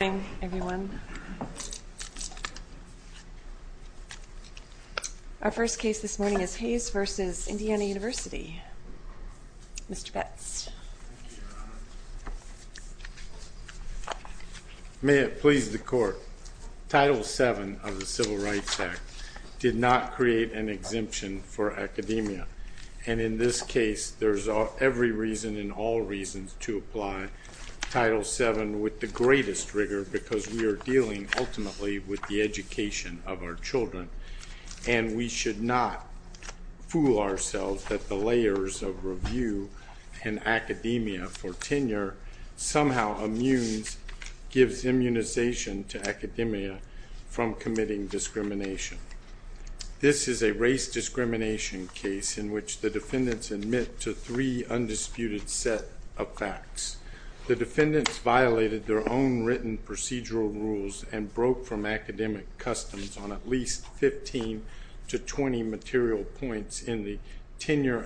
Good morning everyone. Our first case this morning is Haynes v. Indiana University. Mr. Betts. May it please the court. Title VII of the Civil Rights Act did not create an exemption for academia. And in this case, there's every reason and all reasons to apply Title VII with the greatest rigor because we are dealing ultimately with the education of our children. And we should not fool ourselves that the layers of review and academia for tenure somehow immune gives immunization to academia from committing discrimination. This is a race discrimination case in which the defendants admit to three undisputed set of facts. The defendants violated their own written procedural rules and broke from academic customs on at least 15 to 20 material points in the tenure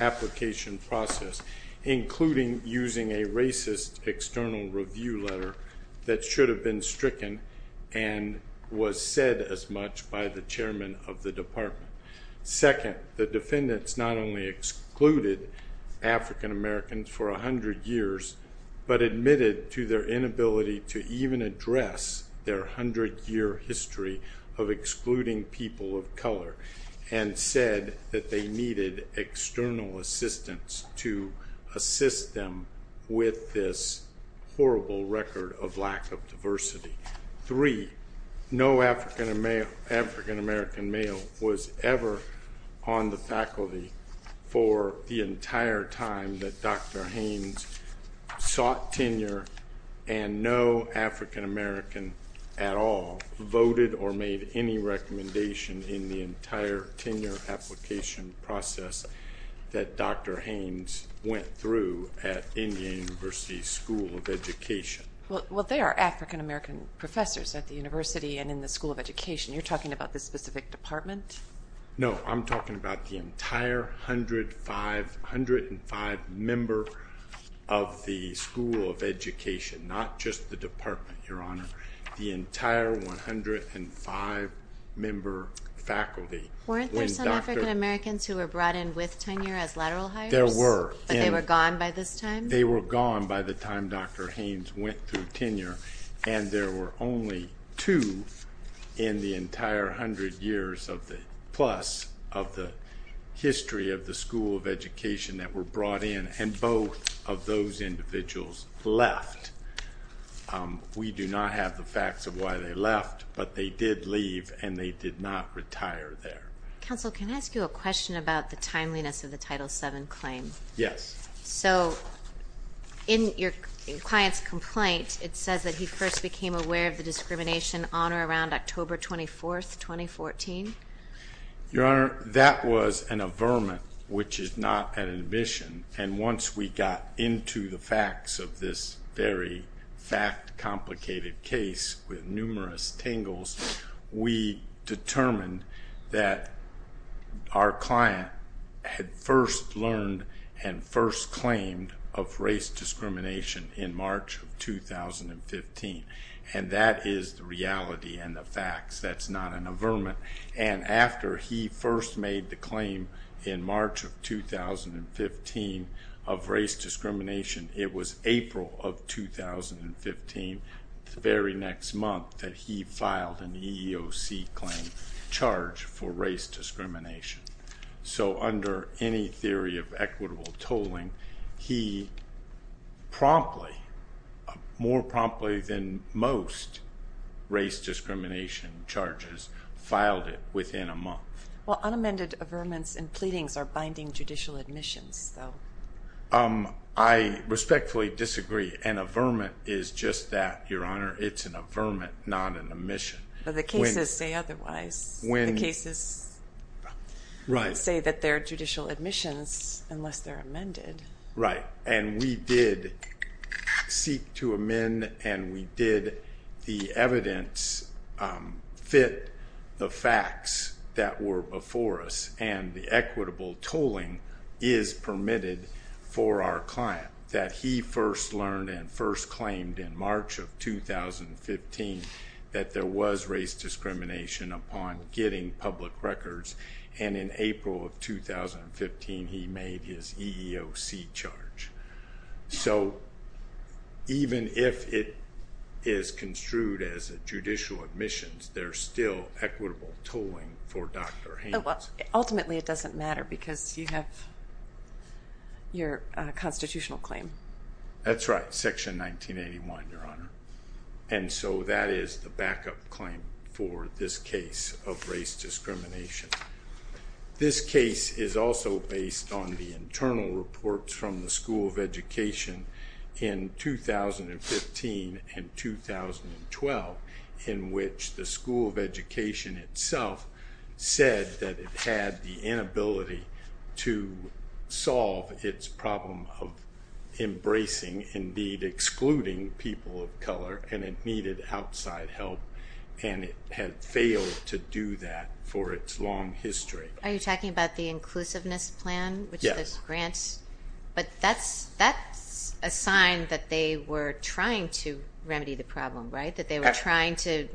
application process, including using a racist external review letter that should have been stricken and was said as much by the chairman of the department. Second, the defendants not only excluded African Americans for 100 years, but admitted to their inability to even address their 100 year history of excluding people of color and said that they needed external assistance to assist them with this horrible record of lack of diversity. Three, no African American male was ever on the faculty for the entire time that Dr. Haynes sought tenure and no African American at all voted or made any recommendation in the entire tenure application process that Dr. Haynes went through at Indiana University School of Education. Well, they are African American professors at the university and in the School of Education. You're talking about this specific department? No, I'm talking about the entire 105 member of the School of Education, not just the department, Your Honor, the entire 105 member faculty. Weren't there some African Americans who were brought in with tenure as lateral hires? There were. But they were gone by this time? They were gone by the time Dr. Haynes went through tenure and there were only two in the entire 100 years plus of the history of the School of Education that were brought in and both of those individuals left. We do not have the facts of why they left, but they did leave and they did not retire there. Counsel, can I ask you a question about the timeliness of the Title VII claim? Yes. So, in your client's complaint, it says that he first became aware of the discrimination on or around October 24, 2014? Your Honor, that was an averment, which is not an admission. And once we got into the facts of this very fact complicated case with numerous tangles, we determined that our client had first learned and first claimed of race discrimination in March of 2015. And that is the reality and the facts. That's not an averment. And after he first made the claim in March of 2015 of race discrimination, it was April of 2015, the very next month, that he filed an EEOC claim charged for race discrimination. So, under any theory of equitable tolling, he promptly, more promptly than most race discrimination charges, filed it within a month. Well, unamended averments and pleadings are binding judicial admissions, though. I respectfully disagree. An averment is just that, Your Honor. It's an averment, not an admission. But the cases say otherwise. The cases say that they're judicial admissions unless they're amended. Right. And we did seek to amend and we did the evidence fit the facts that were before us. And the equitable tolling is permitted for our client, that he first learned and first claimed in March of 2015 that there was race discrimination upon getting public records. And in April of 2015, he made his EEOC charge. So, even if it is construed as a judicial admissions, there's still equitable tolling for Dr. Haynes. Ultimately, it doesn't matter because you have your constitutional claim. That's right. Section 1981, Your Honor. And so, that is the backup claim for this case of race discrimination. This case is also based on the internal reports from the School of Education in 2015 and 2012, in which the School of Education itself said that it had the inability to solve its problem of embracing, indeed, excluding people of color and it needed outside help. And it had failed to do that for its long history. Are you talking about the inclusiveness plan? Yes. But that's a sign that they were trying to remedy the problem, right? That they were trying to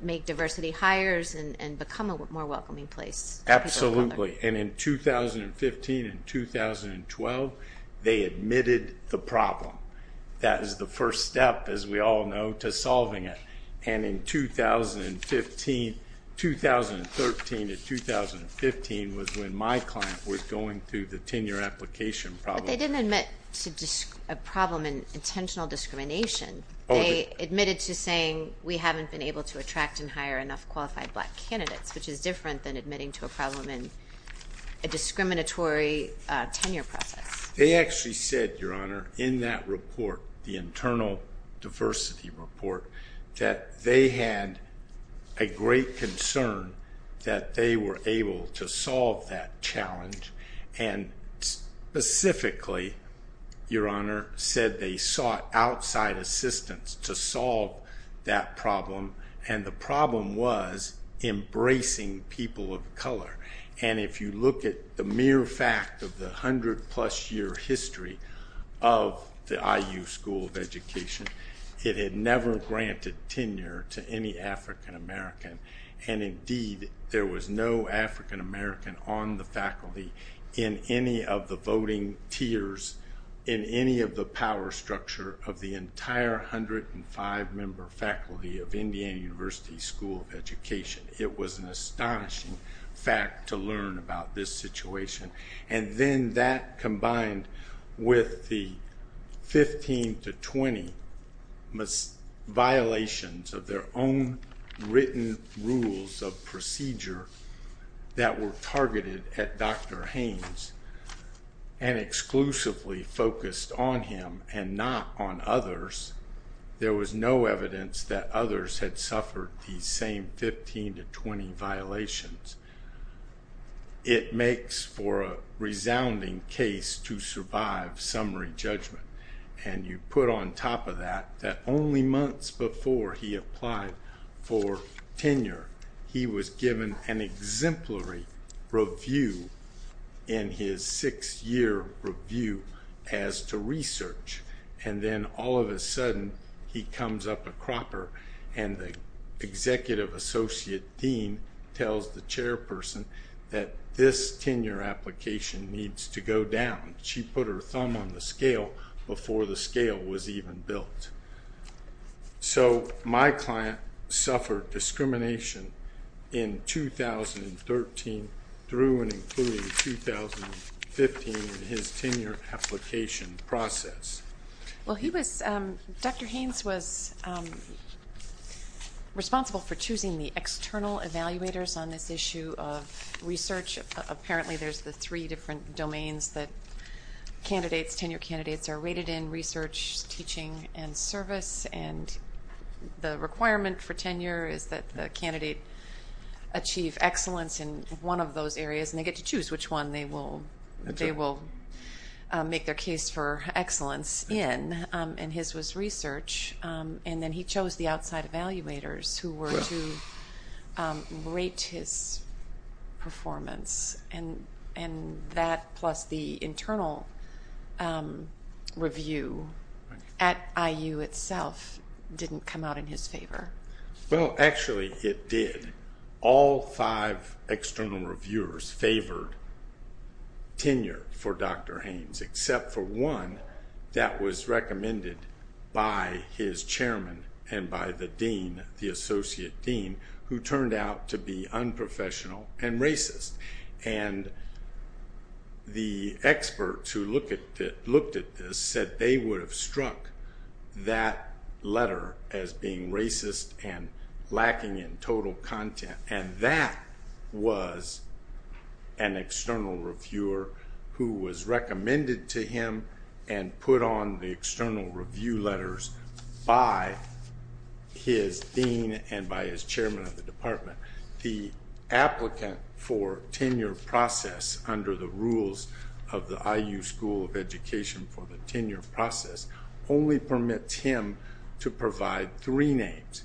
make diversity hires and become a more welcoming place for people of color. Absolutely. And in 2015 and 2012, they admitted the problem. That is the first step, as we all know, to solving it. And in 2015, 2013 to 2015 was when my client was going through the tenure application problem. But they didn't admit to a problem in intentional discrimination. They admitted to saying, we haven't been able to attract and hire enough qualified black candidates, which is different than admitting to a problem in a discriminatory tenure process. They actually said, Your Honor, in that report, the internal diversity report, that they had a great concern that they were able to solve that challenge. And specifically, Your Honor, said they sought outside assistance to solve that problem. And the problem was embracing people of color. And if you look at the mere fact of the hundred plus year history of the IU School of Education, it had never granted tenure to any African American. And indeed, there was no African American on the faculty in any of the voting tiers in any of the power structure of the entire 105 member faculty of Indiana University School of Education. It was an astonishing fact to learn about this situation. And then that combined with the 15 to 20 violations of their own written rules of procedure that were targeted at Dr. Haynes and exclusively focused on him and not on others. There was no evidence that others had suffered the same 15 to 20 violations. It makes for a resounding case to survive summary judgment. And you put on top of that, that only months before he applied for tenure, he was given an exemplary review in his six year review as to research. And then all of a sudden, he comes up a cropper and the executive associate dean tells the chairperson that this tenure application needs to go down. She put her thumb on the scale before the scale was even built. So my client suffered discrimination in 2013 through and including 2015 in his tenure application process. Well, Dr. Haynes was responsible for choosing the external evaluators on this issue of research. Apparently, there's the three different domains that candidates, tenure candidates are rated in research, teaching, and service. And the requirement for tenure is that the candidate achieve excellence in one of those areas. And they get to choose which one they will make their case for excellence in. And his was research. And then he chose the outside evaluators who were to rate his performance. And that plus the internal review at IU itself didn't come out in his favor. Well, actually, it did. All five external reviewers favored tenure for Dr. Haynes, except for one that was recommended by his chairman and by the dean, the associate dean, who turned out to be unprofessional and racist. And the experts who looked at this said they would have struck that letter as being racist and lacking in total content. And that was an external reviewer who was recommended to him and put on the external review letters by his dean and by his chairman of the department. The applicant for tenure process under the rules of the IU School of Education for the tenure process only permits him to provide three names.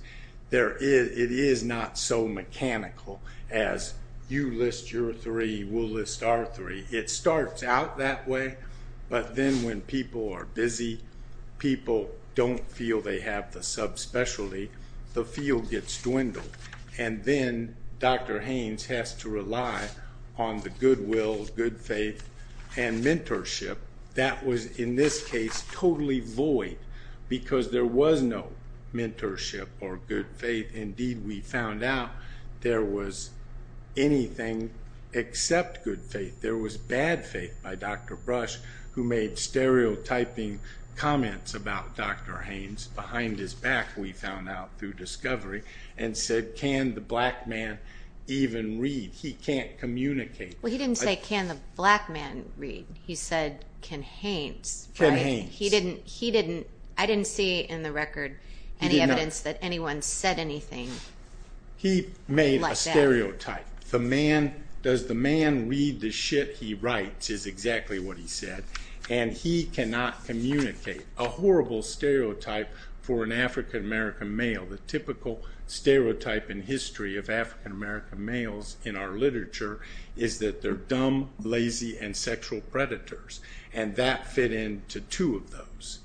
It is not so mechanical as you list your three, we'll list our three. It starts out that way. But then when people are busy, people don't feel they have the subspecialty, the field gets dwindled. And then Dr. Haynes has to rely on the goodwill, good faith, and mentorship. That was, in this case, totally void because there was no mentorship or good faith. Indeed, we found out there was anything except good faith. There was bad faith by Dr. Brush, who made stereotyping comments about Dr. Haynes behind his back, we found out through discovery, and said, can the black man even read? He can't communicate. Well, he didn't say, can the black man read? He said, can Haynes? Can Haynes. I didn't see in the record any evidence that anyone said anything like that. He made a stereotype. The man, does the man read the shit he writes, is exactly what he said. And he cannot communicate. A horrible stereotype for an African American male. The typical stereotype in history of African American males in our literature is that they're dumb, lazy, and sexual predators. And that fit into two of those.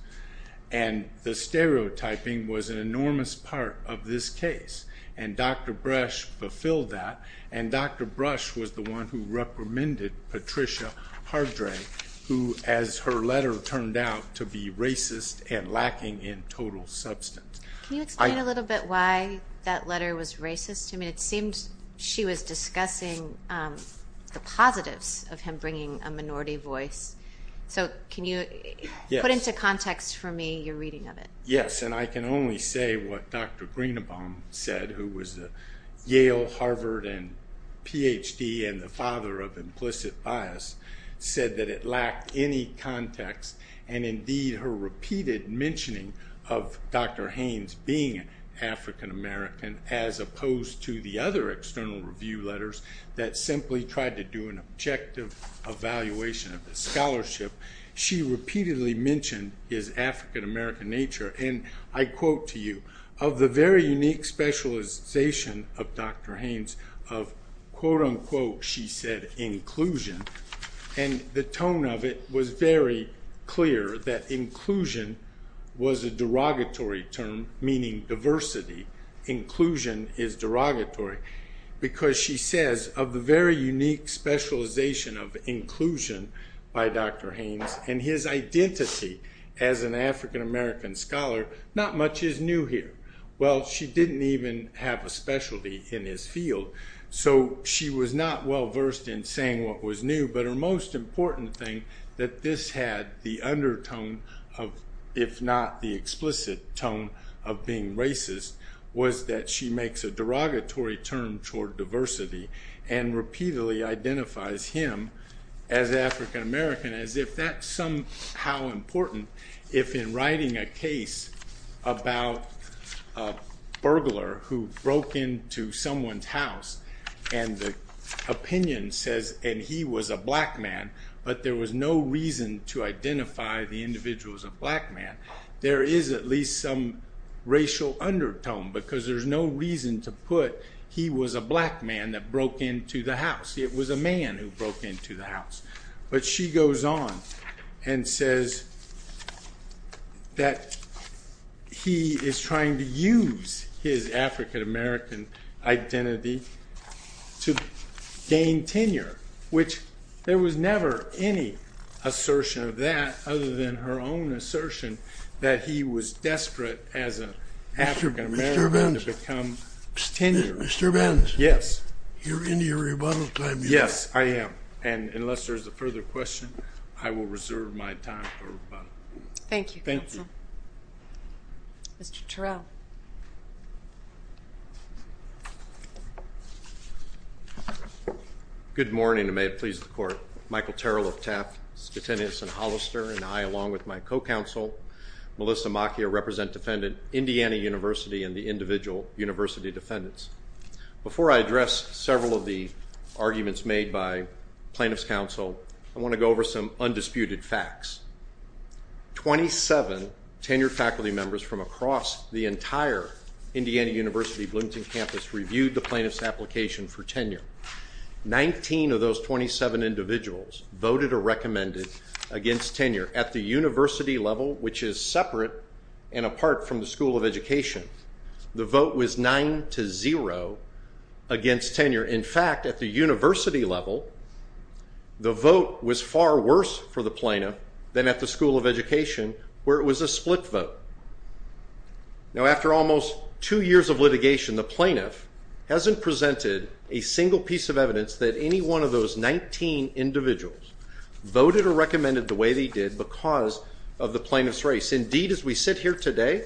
And the stereotyping was an enormous part of this case. And Dr. Brush fulfilled that. And Dr. Brush was the one who reprimanded Patricia Hardray, who, as her letter turned out, to be racist and lacking in total substance. Can you explain a little bit why that letter was racist? I mean, it seemed she was discussing the positives of him bringing a minority voice. So can you put into context for me your reading of it? Yes, and I can only say what Dr. Greenbaum said, who was a Yale, Harvard, and PhD, and the father of implicit bias, said that it lacked any context. And indeed, her repeated mentioning of Dr. Haynes being African American, as opposed to the other external review letters that simply tried to do an objective evaluation of the scholarship. She repeatedly mentioned his African American nature. And I quote to you, of the very unique specialization of Dr. Haynes of, quote unquote, she said, inclusion. And the tone of it was very clear that inclusion was a derogatory term, meaning diversity. Inclusion is derogatory. Because she says, of the very unique specialization of inclusion by Dr. Haynes, and his identity as an African American scholar, not much is new here. Well, she didn't even have a specialty in his field. So she was not well versed in saying what was new. But her most important thing that this had the undertone of, if not the explicit tone of being racist, was that she makes a derogatory term toward diversity, and repeatedly identifies him as African American, as if that's somehow important. If in writing a case about a burglar who broke into someone's house, and the opinion says, and he was a black man, but there was no reason to identify the individual as a black man, there is at least some racial undertone. Because there's no reason to put, he was a black man that broke into the house. It was a man who broke into the house. But she goes on and says that he is trying to use his African American identity to gain tenure, which there was never any assertion of that other than her own assertion that he was desperate as an African American to become tenured. Mr. Evans. Yes. You're into your rebuttal time. Yes, I am. And unless there's a further question, I will reserve my time for rebuttal. Thank you, counsel. Thank you. Mr. Terrell. Good morning, and may it please the court. Michael Terrell of Taft, Scutinius, and Hollister, and I, along with my co-counsel, Melissa Macchia, represent defendant Indiana University and the individual university defendants. Before I address several of the arguments made by plaintiff's counsel, I want to go over some undisputed facts. Twenty-seven tenured faculty members from across the entire Indiana University Bloomington campus reviewed the plaintiff's application for tenure. Nineteen of those 27 individuals voted or recommended against tenure. At the university level, which is separate and apart from the School of Education, the vote was 9-0 against tenure. In fact, at the university level, the vote was far worse for the plaintiff than at the School of Education, where it was a split vote. Now, after almost two years of litigation, the plaintiff hasn't presented a single piece of evidence that any one of those 19 individuals voted or recommended the way they did because of the plaintiff's race. Indeed, as we sit here today,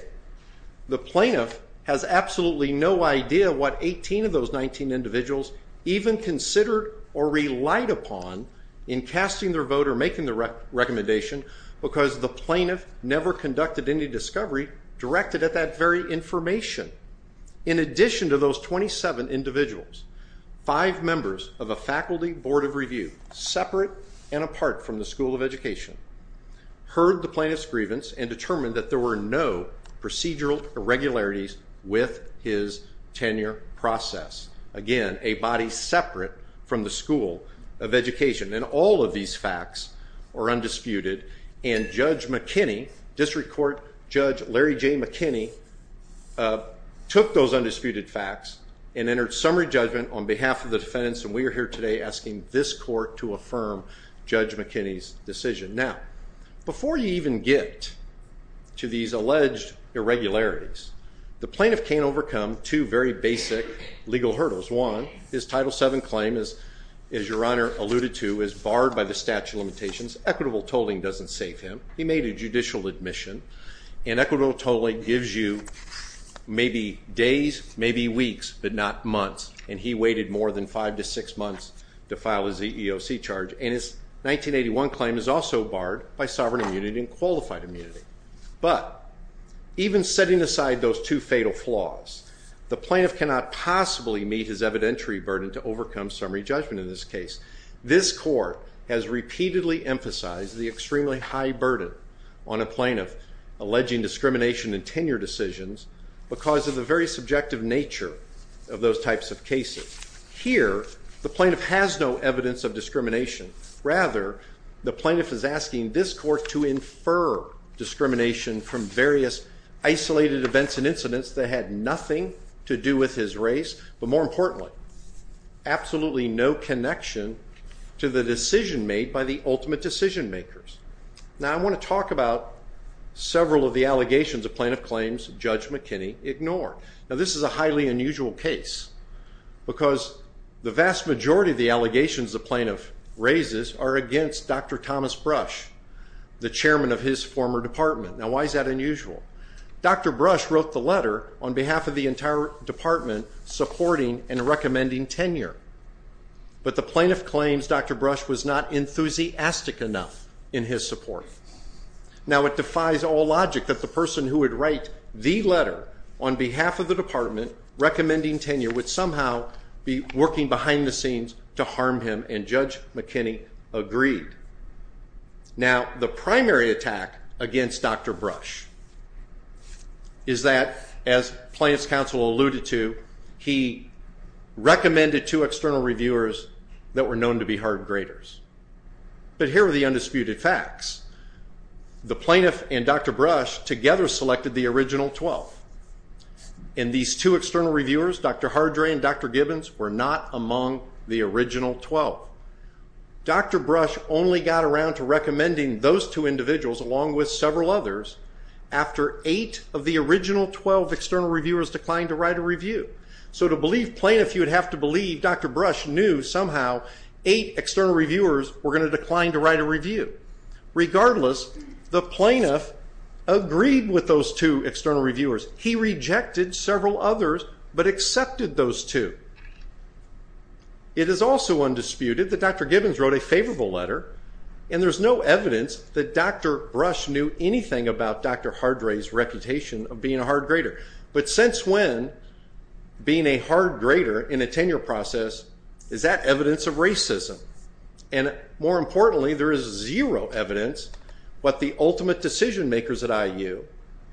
the plaintiff has absolutely no idea what 18 of those 19 individuals even considered or relied upon in casting their vote or making the recommendation because the plaintiff never conducted any discovery directed at that very information. In addition to those 27 individuals, five members of a faculty board of review, separate and apart from the School of Education, heard the plaintiff's grievance and determined that there were no procedural irregularities with his tenure process. Again, a body separate from the School of Education. And all of these facts are undisputed, and Judge McKinney, District Court Judge Larry J. McKinney, took those undisputed facts and entered summary judgment on behalf of the defendants, and we are here today asking this court to affirm Judge McKinney's decision. Now, before you even get to these alleged irregularities, the plaintiff can overcome two very basic legal hurdles. One, his Title VII claim, as Your Honor alluded to, is barred by the statute of limitations. Equitable tolling doesn't save him. He made a judicial admission, and equitable tolling gives you maybe days, maybe weeks, but not months. And he waited more than five to six months to file his EEOC charge. And his 1981 claim is also barred by sovereign immunity and qualified immunity. But even setting aside those two fatal flaws, the plaintiff cannot possibly meet his evidentiary burden to overcome summary judgment in this case. This court has repeatedly emphasized the extremely high burden on a plaintiff, alleging discrimination in tenure decisions because of the very subjective nature of those types of cases. Here, the plaintiff has no evidence of discrimination. Rather, the plaintiff is asking this court to infer discrimination from various isolated events and incidents that had nothing to do with his race, but more importantly, absolutely no connection to the decision made by the ultimate decision makers. Now, I want to talk about several of the allegations the plaintiff claims Judge McKinney ignored. Now, this is a highly unusual case because the vast majority of the allegations the plaintiff raises are against Dr. Thomas Brush, the chairman of his former department. Now, why is that unusual? Dr. Brush wrote the letter on behalf of the entire department supporting and recommending tenure. But the plaintiff claims Dr. Brush was not enthusiastic enough in his support. Now, it defies all logic that the person who would write the letter on behalf of the department recommending tenure would somehow be working behind the scenes to harm him, and Judge McKinney agreed. Now, the primary attack against Dr. Brush is that, as Plaintiff's counsel alluded to, he recommended two external reviewers that were known to be hard graders. But here are the undisputed facts. The plaintiff and Dr. Brush together selected the original 12. And these two external reviewers, Dr. Hardray and Dr. Gibbons, were not among the original 12. Dr. Brush only got around to recommending those two individuals, along with several others, after eight of the original 12 external reviewers declined to write a review. So to believe plaintiff, you would have to believe Dr. Brush knew somehow eight external reviewers were going to decline to write a review. Regardless, the plaintiff agreed with those two external reviewers. He rejected several others, but accepted those two. It is also undisputed that Dr. Gibbons wrote a favorable letter, and there's no evidence that Dr. Brush knew anything about Dr. Hardray's reputation of being a hard grader. But since when, being a hard grader in a tenure process, is that evidence of racism? And more importantly, there is zero evidence what the ultimate decision makers at IU,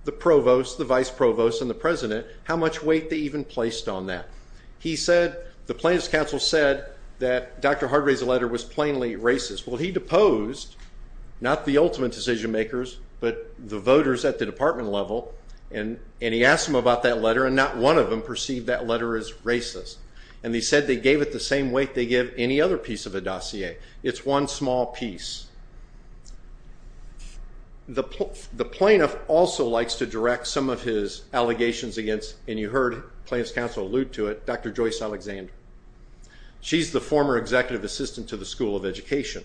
the provost, the vice provost, and the president, how much weight they even placed on that. He said, the plaintiff's counsel said that Dr. Hardray's letter was plainly racist. Well, he deposed not the ultimate decision makers, but the voters at the department level, and he asked them about that letter, and not one of them perceived that letter as racist. And he said they gave it the same weight they give any other piece of a dossier. It's one small piece. The plaintiff also likes to direct some of his allegations against, and you heard the plaintiff's counsel allude to it, Dr. Joyce Alexander. She's the former executive assistant to the School of Education.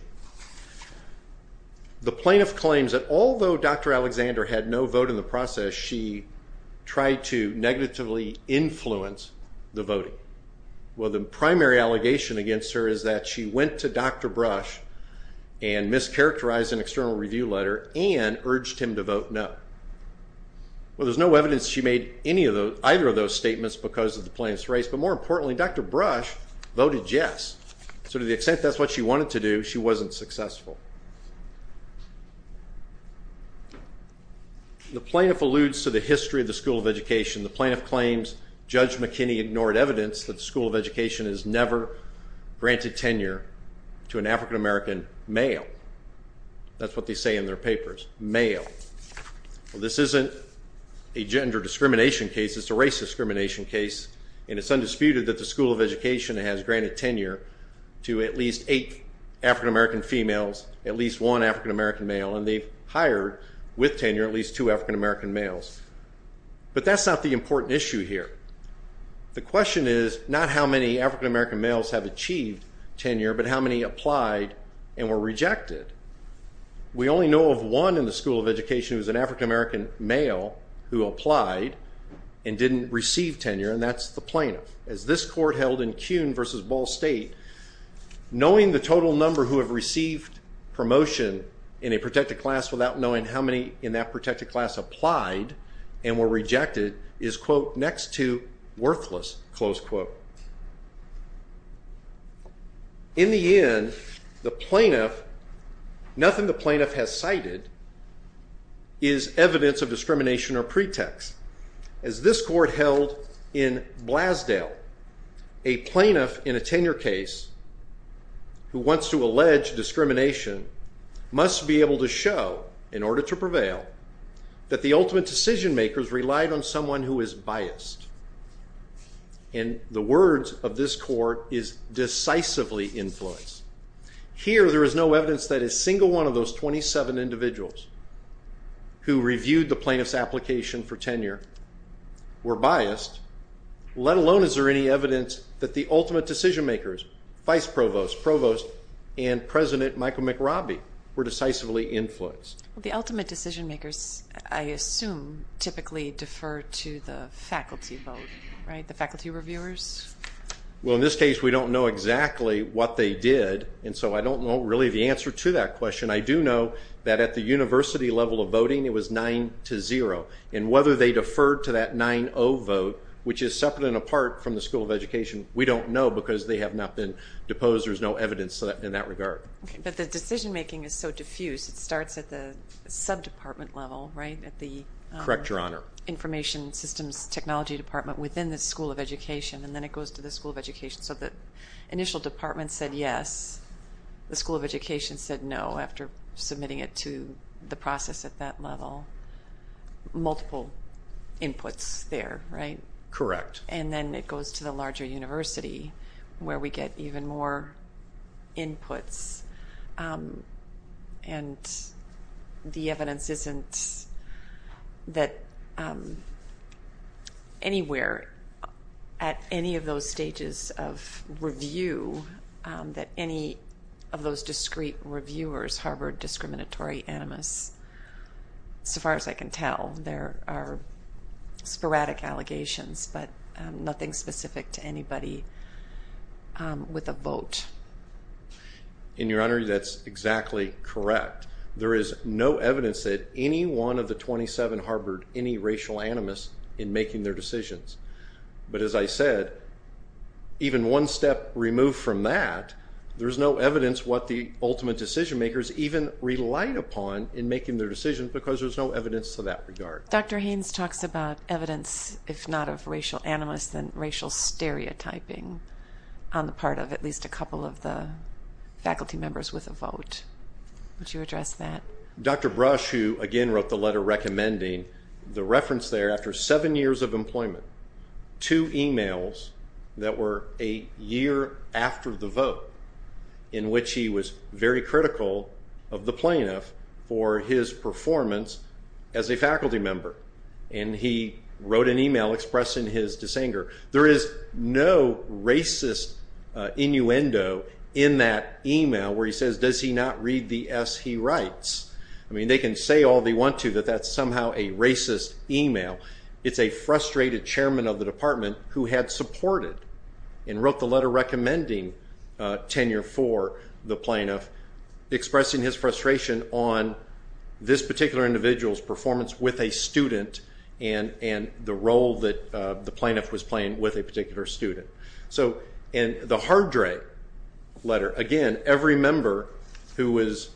The plaintiff claims that although Dr. Alexander had no vote in the process, she tried to negatively influence the voting. Well, the primary allegation against her is that she went to Dr. Brush and mischaracterized an external review letter and urged him to vote no. Well, there's no evidence she made either of those statements because of the plaintiff's race, but more importantly, Dr. Brush voted yes. So to the extent that's what she wanted to do, she wasn't successful. The plaintiff alludes to the history of the School of Education. The plaintiff claims Judge McKinney ignored evidence that the School of Education has never granted tenure to an African-American male. That's what they say in their papers, male. Well, this isn't a gender discrimination case. It's a race discrimination case, and it's undisputed that the School of Education has granted tenure to at least eight African-American females, at least one African-American male, and they've hired with tenure at least two African-American males. But that's not the important issue here. The question is not how many African-American males have achieved tenure but how many applied and were rejected. We only know of one in the School of Education who was an African-American male who applied and didn't receive tenure, and that's the plaintiff. As this court held in Kuhn v. Ball State, knowing the total number who have received promotion in a protected class without knowing how many in that protected class applied and were rejected is, quote, next to worthless, close quote. In the end, the plaintiff, nothing the plaintiff has cited is evidence of discrimination or pretext. As this court held in Blasdale, a plaintiff in a tenure case who wants to allege discrimination must be able to show, in order to prevail, that the ultimate decision makers relied on someone who is biased. And the words of this court is decisively influence. Here there is no evidence that a single one of those 27 individuals who reviewed the plaintiff's application for tenure were biased, let alone is there any evidence that the ultimate decision makers, vice provost, provost, and President Michael McRobbie were decisively influenced. The ultimate decision makers, I assume, typically defer to the faculty vote, right, the faculty reviewers? Well, in this case we don't know exactly what they did, and so I don't know really the answer to that question. I do know that at the university level of voting it was 9-0, and whether they deferred to that 9-0 vote, which is separate and apart from the School of Education, we don't know because they have not been deposed. There's no evidence in that regard. But the decision making is so diffuse. It starts at the sub-department level, right, at the Information Systems Technology Department within the School of Education, and then it goes to the School of Education. So the initial department said yes. The School of Education said no after submitting it to the process at that level. Multiple inputs there, right? Correct. And then it goes to the larger university where we get even more inputs. And the evidence isn't that anywhere at any of those stages of review that any of those discrete reviewers harbored discriminatory animus. So far as I can tell, there are sporadic allegations, but nothing specific to anybody with a vote. And, Your Honor, that's exactly correct. There is no evidence that any one of the 27 harbored any racial animus in making their decisions. But as I said, even one step removed from that, there's no evidence what the ultimate decision makers even relied upon in making their decisions because there's no evidence to that regard. Dr. Haynes talks about evidence, if not of racial animus, then racial stereotyping on the part of at least a couple of the faculty members with a vote. Would you address that? Dr. Brush, who again wrote the letter recommending the reference there, after seven years of employment, two emails that were a year after the vote, in which he was very critical of the plaintiff for his performance as a faculty member. And he wrote an email expressing his disanger. There is no racist innuendo in that email where he says, does he not read the S he writes? I mean, they can say all they want to that that's somehow a racist email. It's a frustrated chairman of the department who had supported and wrote the letter recommending tenure for the plaintiff, expressing his frustration on this particular individual's performance with a student and the role that the plaintiff was playing with a particular student. So in the Hardrey letter, again, every member who was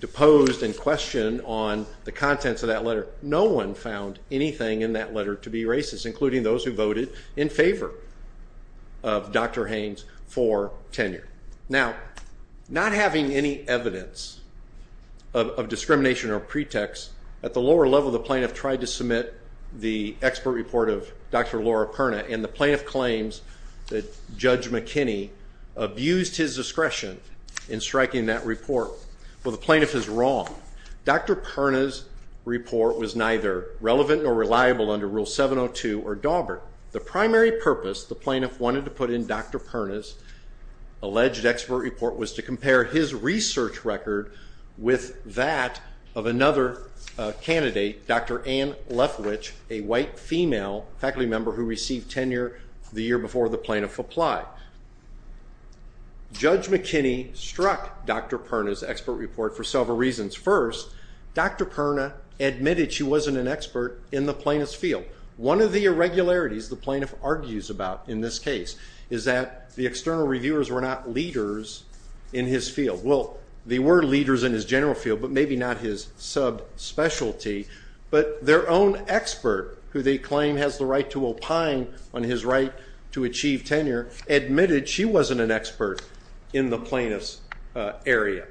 deposed and questioned on the contents of that letter, no one found anything in that letter to be racist, including those who voted in favor of Dr. Haynes for tenure. Now, not having any evidence of discrimination or pretext, at the lower level the plaintiff tried to submit the expert report of Dr. Laura Perna, and the plaintiff claims that Judge McKinney abused his discretion in striking that report. Well, the plaintiff is wrong. Dr. Perna's report was neither relevant nor reliable under Rule 702 or Daubert. The primary purpose the plaintiff wanted to put in Dr. Perna's alleged expert report was to compare his research record with that of another candidate, Dr. Ann Lethwich, a white female faculty member who received tenure the year before the plaintiff applied. Judge McKinney struck Dr. Perna's expert report for several reasons. First, Dr. Perna admitted she wasn't an expert in the plaintiff's field. One of the irregularities the plaintiff argues about in this case is that the external reviewers were not leaders in his field. Well, they were leaders in his general field, but maybe not his sub-specialty. But their own expert, who they claim has the right to opine on his right to achieve tenure, admitted she wasn't an expert in the plaintiff's area.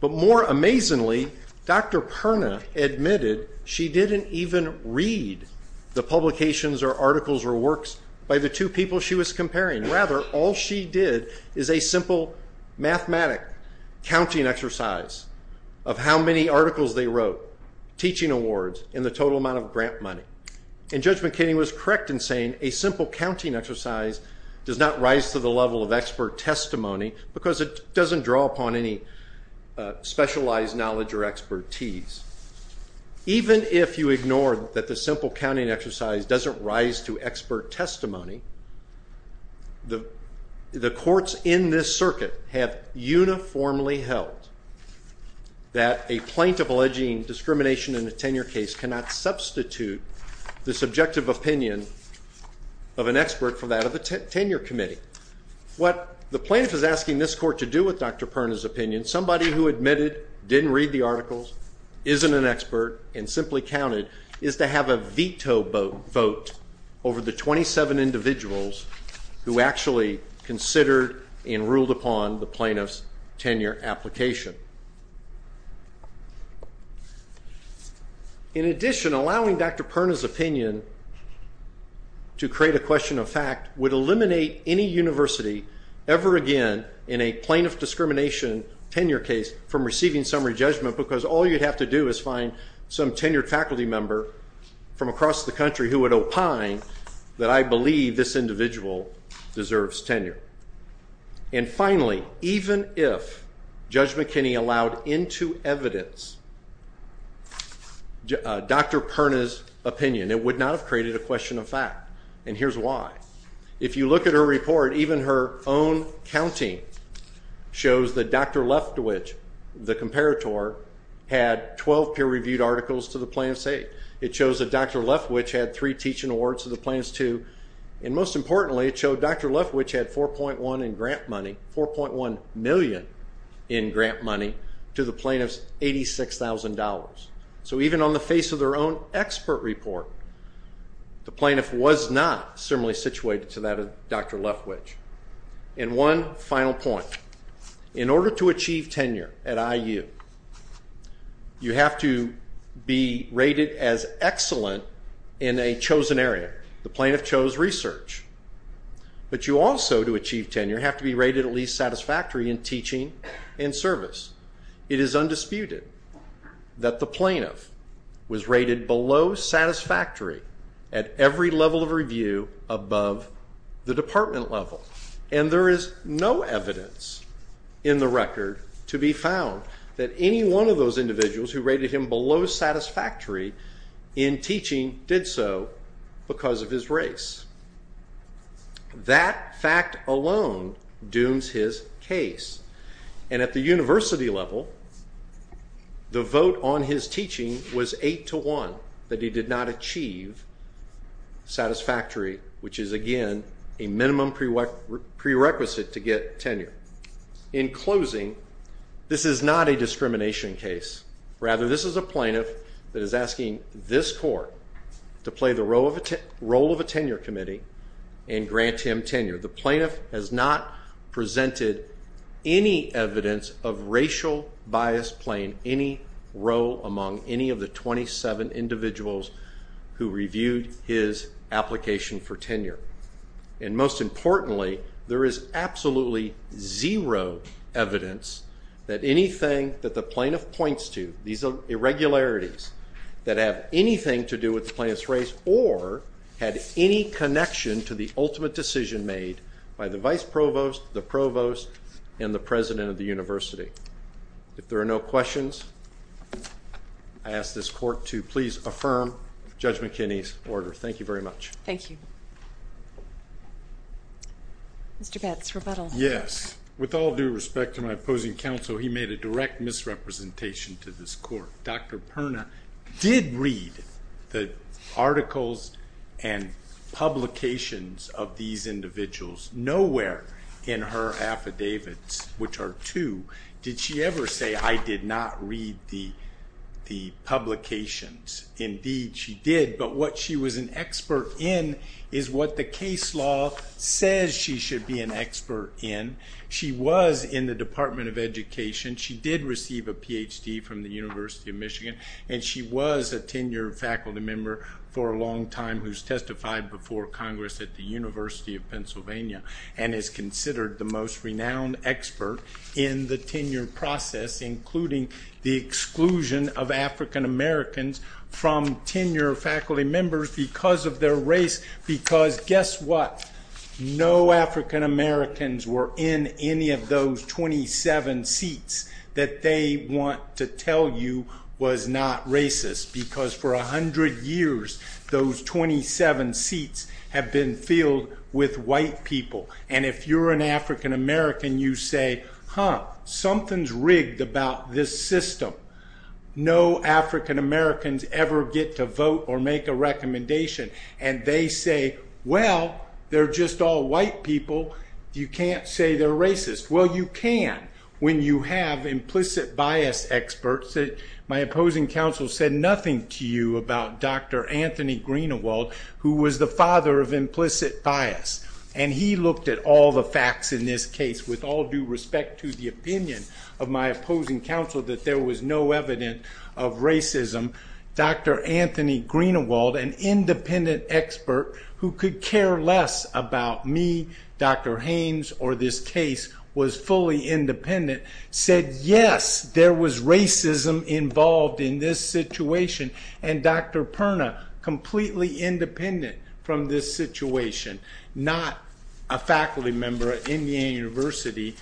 But more amazingly, Dr. Perna admitted she didn't even read the publications or articles or works by the two people she was comparing. Rather, all she did is a simple mathematic counting exercise of how many articles they wrote, teaching awards, and the total amount of grant money. And Judge McKinney was correct in saying a simple counting exercise does not rise to the level of expert testimony because it doesn't draw upon any specialized knowledge or expertise. Even if you ignore that the simple counting exercise doesn't rise to expert testimony, the courts in this circuit have uniformly held that a plaintiff alleging discrimination in a tenure case cannot substitute the subjective opinion of an expert for that of a tenure committee. What the plaintiff is asking this court to do with Dr. Perna's opinion, and somebody who admitted didn't read the articles, isn't an expert, and simply counted, is to have a veto vote over the 27 individuals who actually considered and ruled upon the plaintiff's tenure application. In addition, allowing Dr. Perna's opinion to create a question of fact would eliminate any university ever again in a plaintiff discrimination tenure case from receiving summary judgment because all you'd have to do is find some tenured faculty member from across the country who would opine that I believe this individual deserves tenure. And finally, even if Judge McKinney allowed into evidence Dr. Perna's opinion, it would not have created a question of fact, and here's why. If you look at her report, even her own counting shows that Dr. Leftwich, the comparator, had 12 peer-reviewed articles to the plaintiff's aid. It shows that Dr. Leftwich had three teaching awards to the plaintiff's two, and most importantly, it showed Dr. Leftwich had $4.1 million in grant money to the plaintiff's $86,000. So even on the face of their own expert report, the plaintiff was not similarly situated to that of Dr. Leftwich. And one final point. In order to achieve tenure at IU, you have to be rated as excellent in a chosen area. The plaintiff chose research. But you also, to achieve tenure, have to be rated at least satisfactory in teaching and service. It is undisputed that the plaintiff was rated below satisfactory at every level of review above the department level. And there is no evidence in the record to be found that any one of those individuals who rated him below satisfactory in teaching did so because of his race. That fact alone dooms his case. And at the university level, the vote on his teaching was 8 to 1, that he did not achieve satisfactory, which is, again, a minimum prerequisite to get tenure. In closing, this is not a discrimination case. Rather, this is a plaintiff that is asking this court to play the role of a tenure committee and grant him tenure. The plaintiff has not presented any evidence of racial bias playing any role among any of the 27 individuals who reviewed his application for tenure. And most importantly, there is absolutely zero evidence that anything that the plaintiff points to, these irregularities that have anything to do with the plaintiff's race or had any connection to the ultimate decision made by the vice provost, the provost, and the president of the university. If there are no questions, I ask this court to please affirm Judge McKinney's order. Thank you very much. Thank you. Mr. Betz, rebuttal. Yes. With all due respect to my opposing counsel, he made a direct misrepresentation to this court. Dr. Perna did read the articles and publications of these individuals. Nowhere in her affidavits, which are two, did she ever say, I did not read the publications. Indeed, she did. But what she was an expert in is what the case law says she should be an expert in. She was in the Department of Education. She did receive a Ph.D. from the University of Michigan, and she was a tenured faculty member for a long time who's testified before Congress at the University of Pennsylvania and is considered the most renowned expert in the tenure process, including the exclusion of African Americans from tenure faculty members because of their race. Because guess what? No African Americans were in any of those 27 seats that they want to tell you was not racist because for 100 years those 27 seats have been filled with white people. And if you're an African American, you say, huh, something's rigged about this system. No African Americans ever get to vote or make a recommendation, and they say, well, they're just all white people. You can't say they're racist. Well, you can when you have implicit bias experts. My opposing counsel said nothing to you about Dr. Anthony Greenewald, who was the father of implicit bias, and he looked at all the facts in this case. With all due respect to the opinion of my opposing counsel that there was no evidence of racism, Dr. Anthony Greenewald, an independent expert who could care less about me, Dr. Haynes, or this case was fully independent, said yes, there was racism involved in this situation, and Dr. Perna, completely independent from this situation, not a faculty member at Indiana University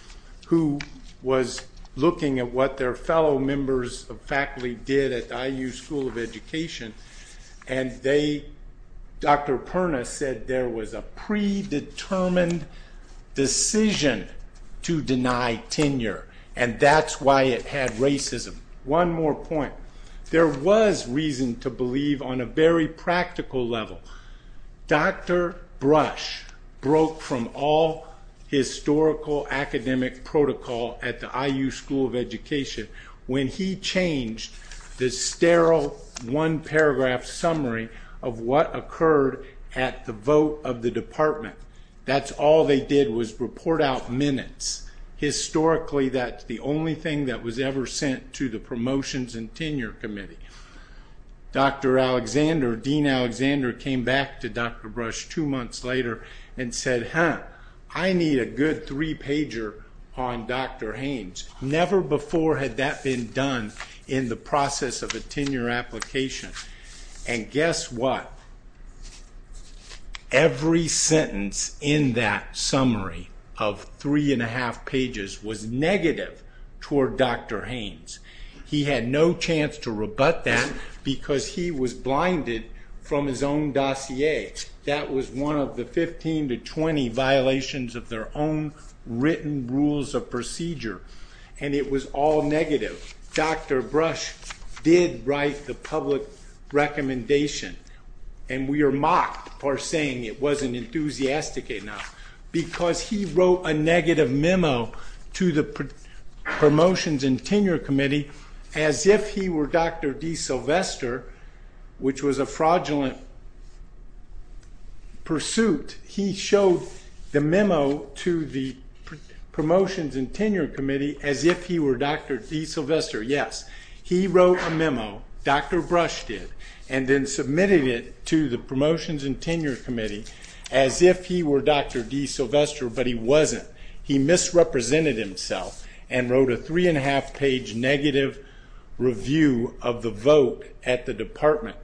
who was looking at what their fellow members of faculty did at the IU School of Education, and Dr. Perna said there was a predetermined decision to deny tenure, and that's why it had racism. One more point. There was reason to believe on a very practical level. Dr. Brush broke from all historical academic protocol at the IU School of Education when he changed the sterile one-paragraph summary of what occurred at the vote of the department. That's all they did was report out minutes. Historically, that's the only thing that was ever sent to the Promotions and Tenure Committee. Dr. Alexander, Dean Alexander, came back to Dr. Brush two months later and said, I need a good three-pager on Dr. Haynes. Never before had that been done in the process of a tenure application, and guess what? Every sentence in that summary of three and a half pages was negative toward Dr. Haynes. He had no chance to rebut that because he was blinded from his own dossier. That was one of the 15 to 20 violations of their own written rules of procedure, and it was all negative. Dr. Brush did write the public recommendation, and we are mocked for saying it wasn't enthusiastic enough because he wrote a negative memo to the Promotions and Tenure Committee as if he were Dr. DeSylvester, which was a fraudulent pursuit. He showed the memo to the Promotions and Tenure Committee as if he were Dr. DeSylvester. Yes, he wrote a memo, Dr. Brush did, and then submitted it to the Promotions and Tenure Committee as if he were Dr. DeSylvester, but he wasn't. He misrepresented himself and wrote a three-and-a-half-page negative review of the vote at the department,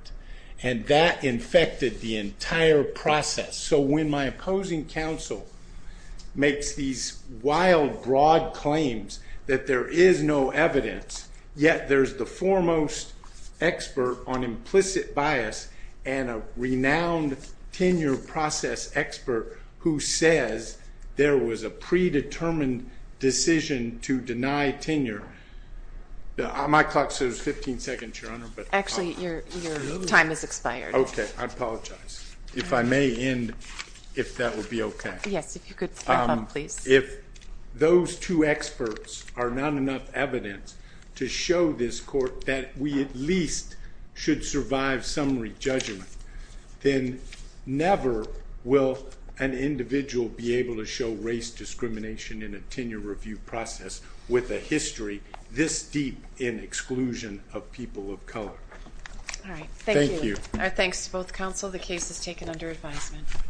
and that infected the entire process. So when my opposing counsel makes these wild, broad claims that there is no evidence, yet there's the foremost expert on implicit bias and a renowned tenure process expert who says there was a predetermined decision to deny tenure, my clock says 15 seconds, Your Honor. Actually, your time has expired. Okay, I apologize. If I may end, if that would be okay. Yes, if you could wrap up, please. If those two experts are not enough evidence to show this court that we at least should survive summary judgment, then never will an individual be able to show race discrimination in a tenure review process with a history this deep in exclusion of people of color. All right, thank you. Thank you. Our thanks to both counsel. The case is taken under advisement.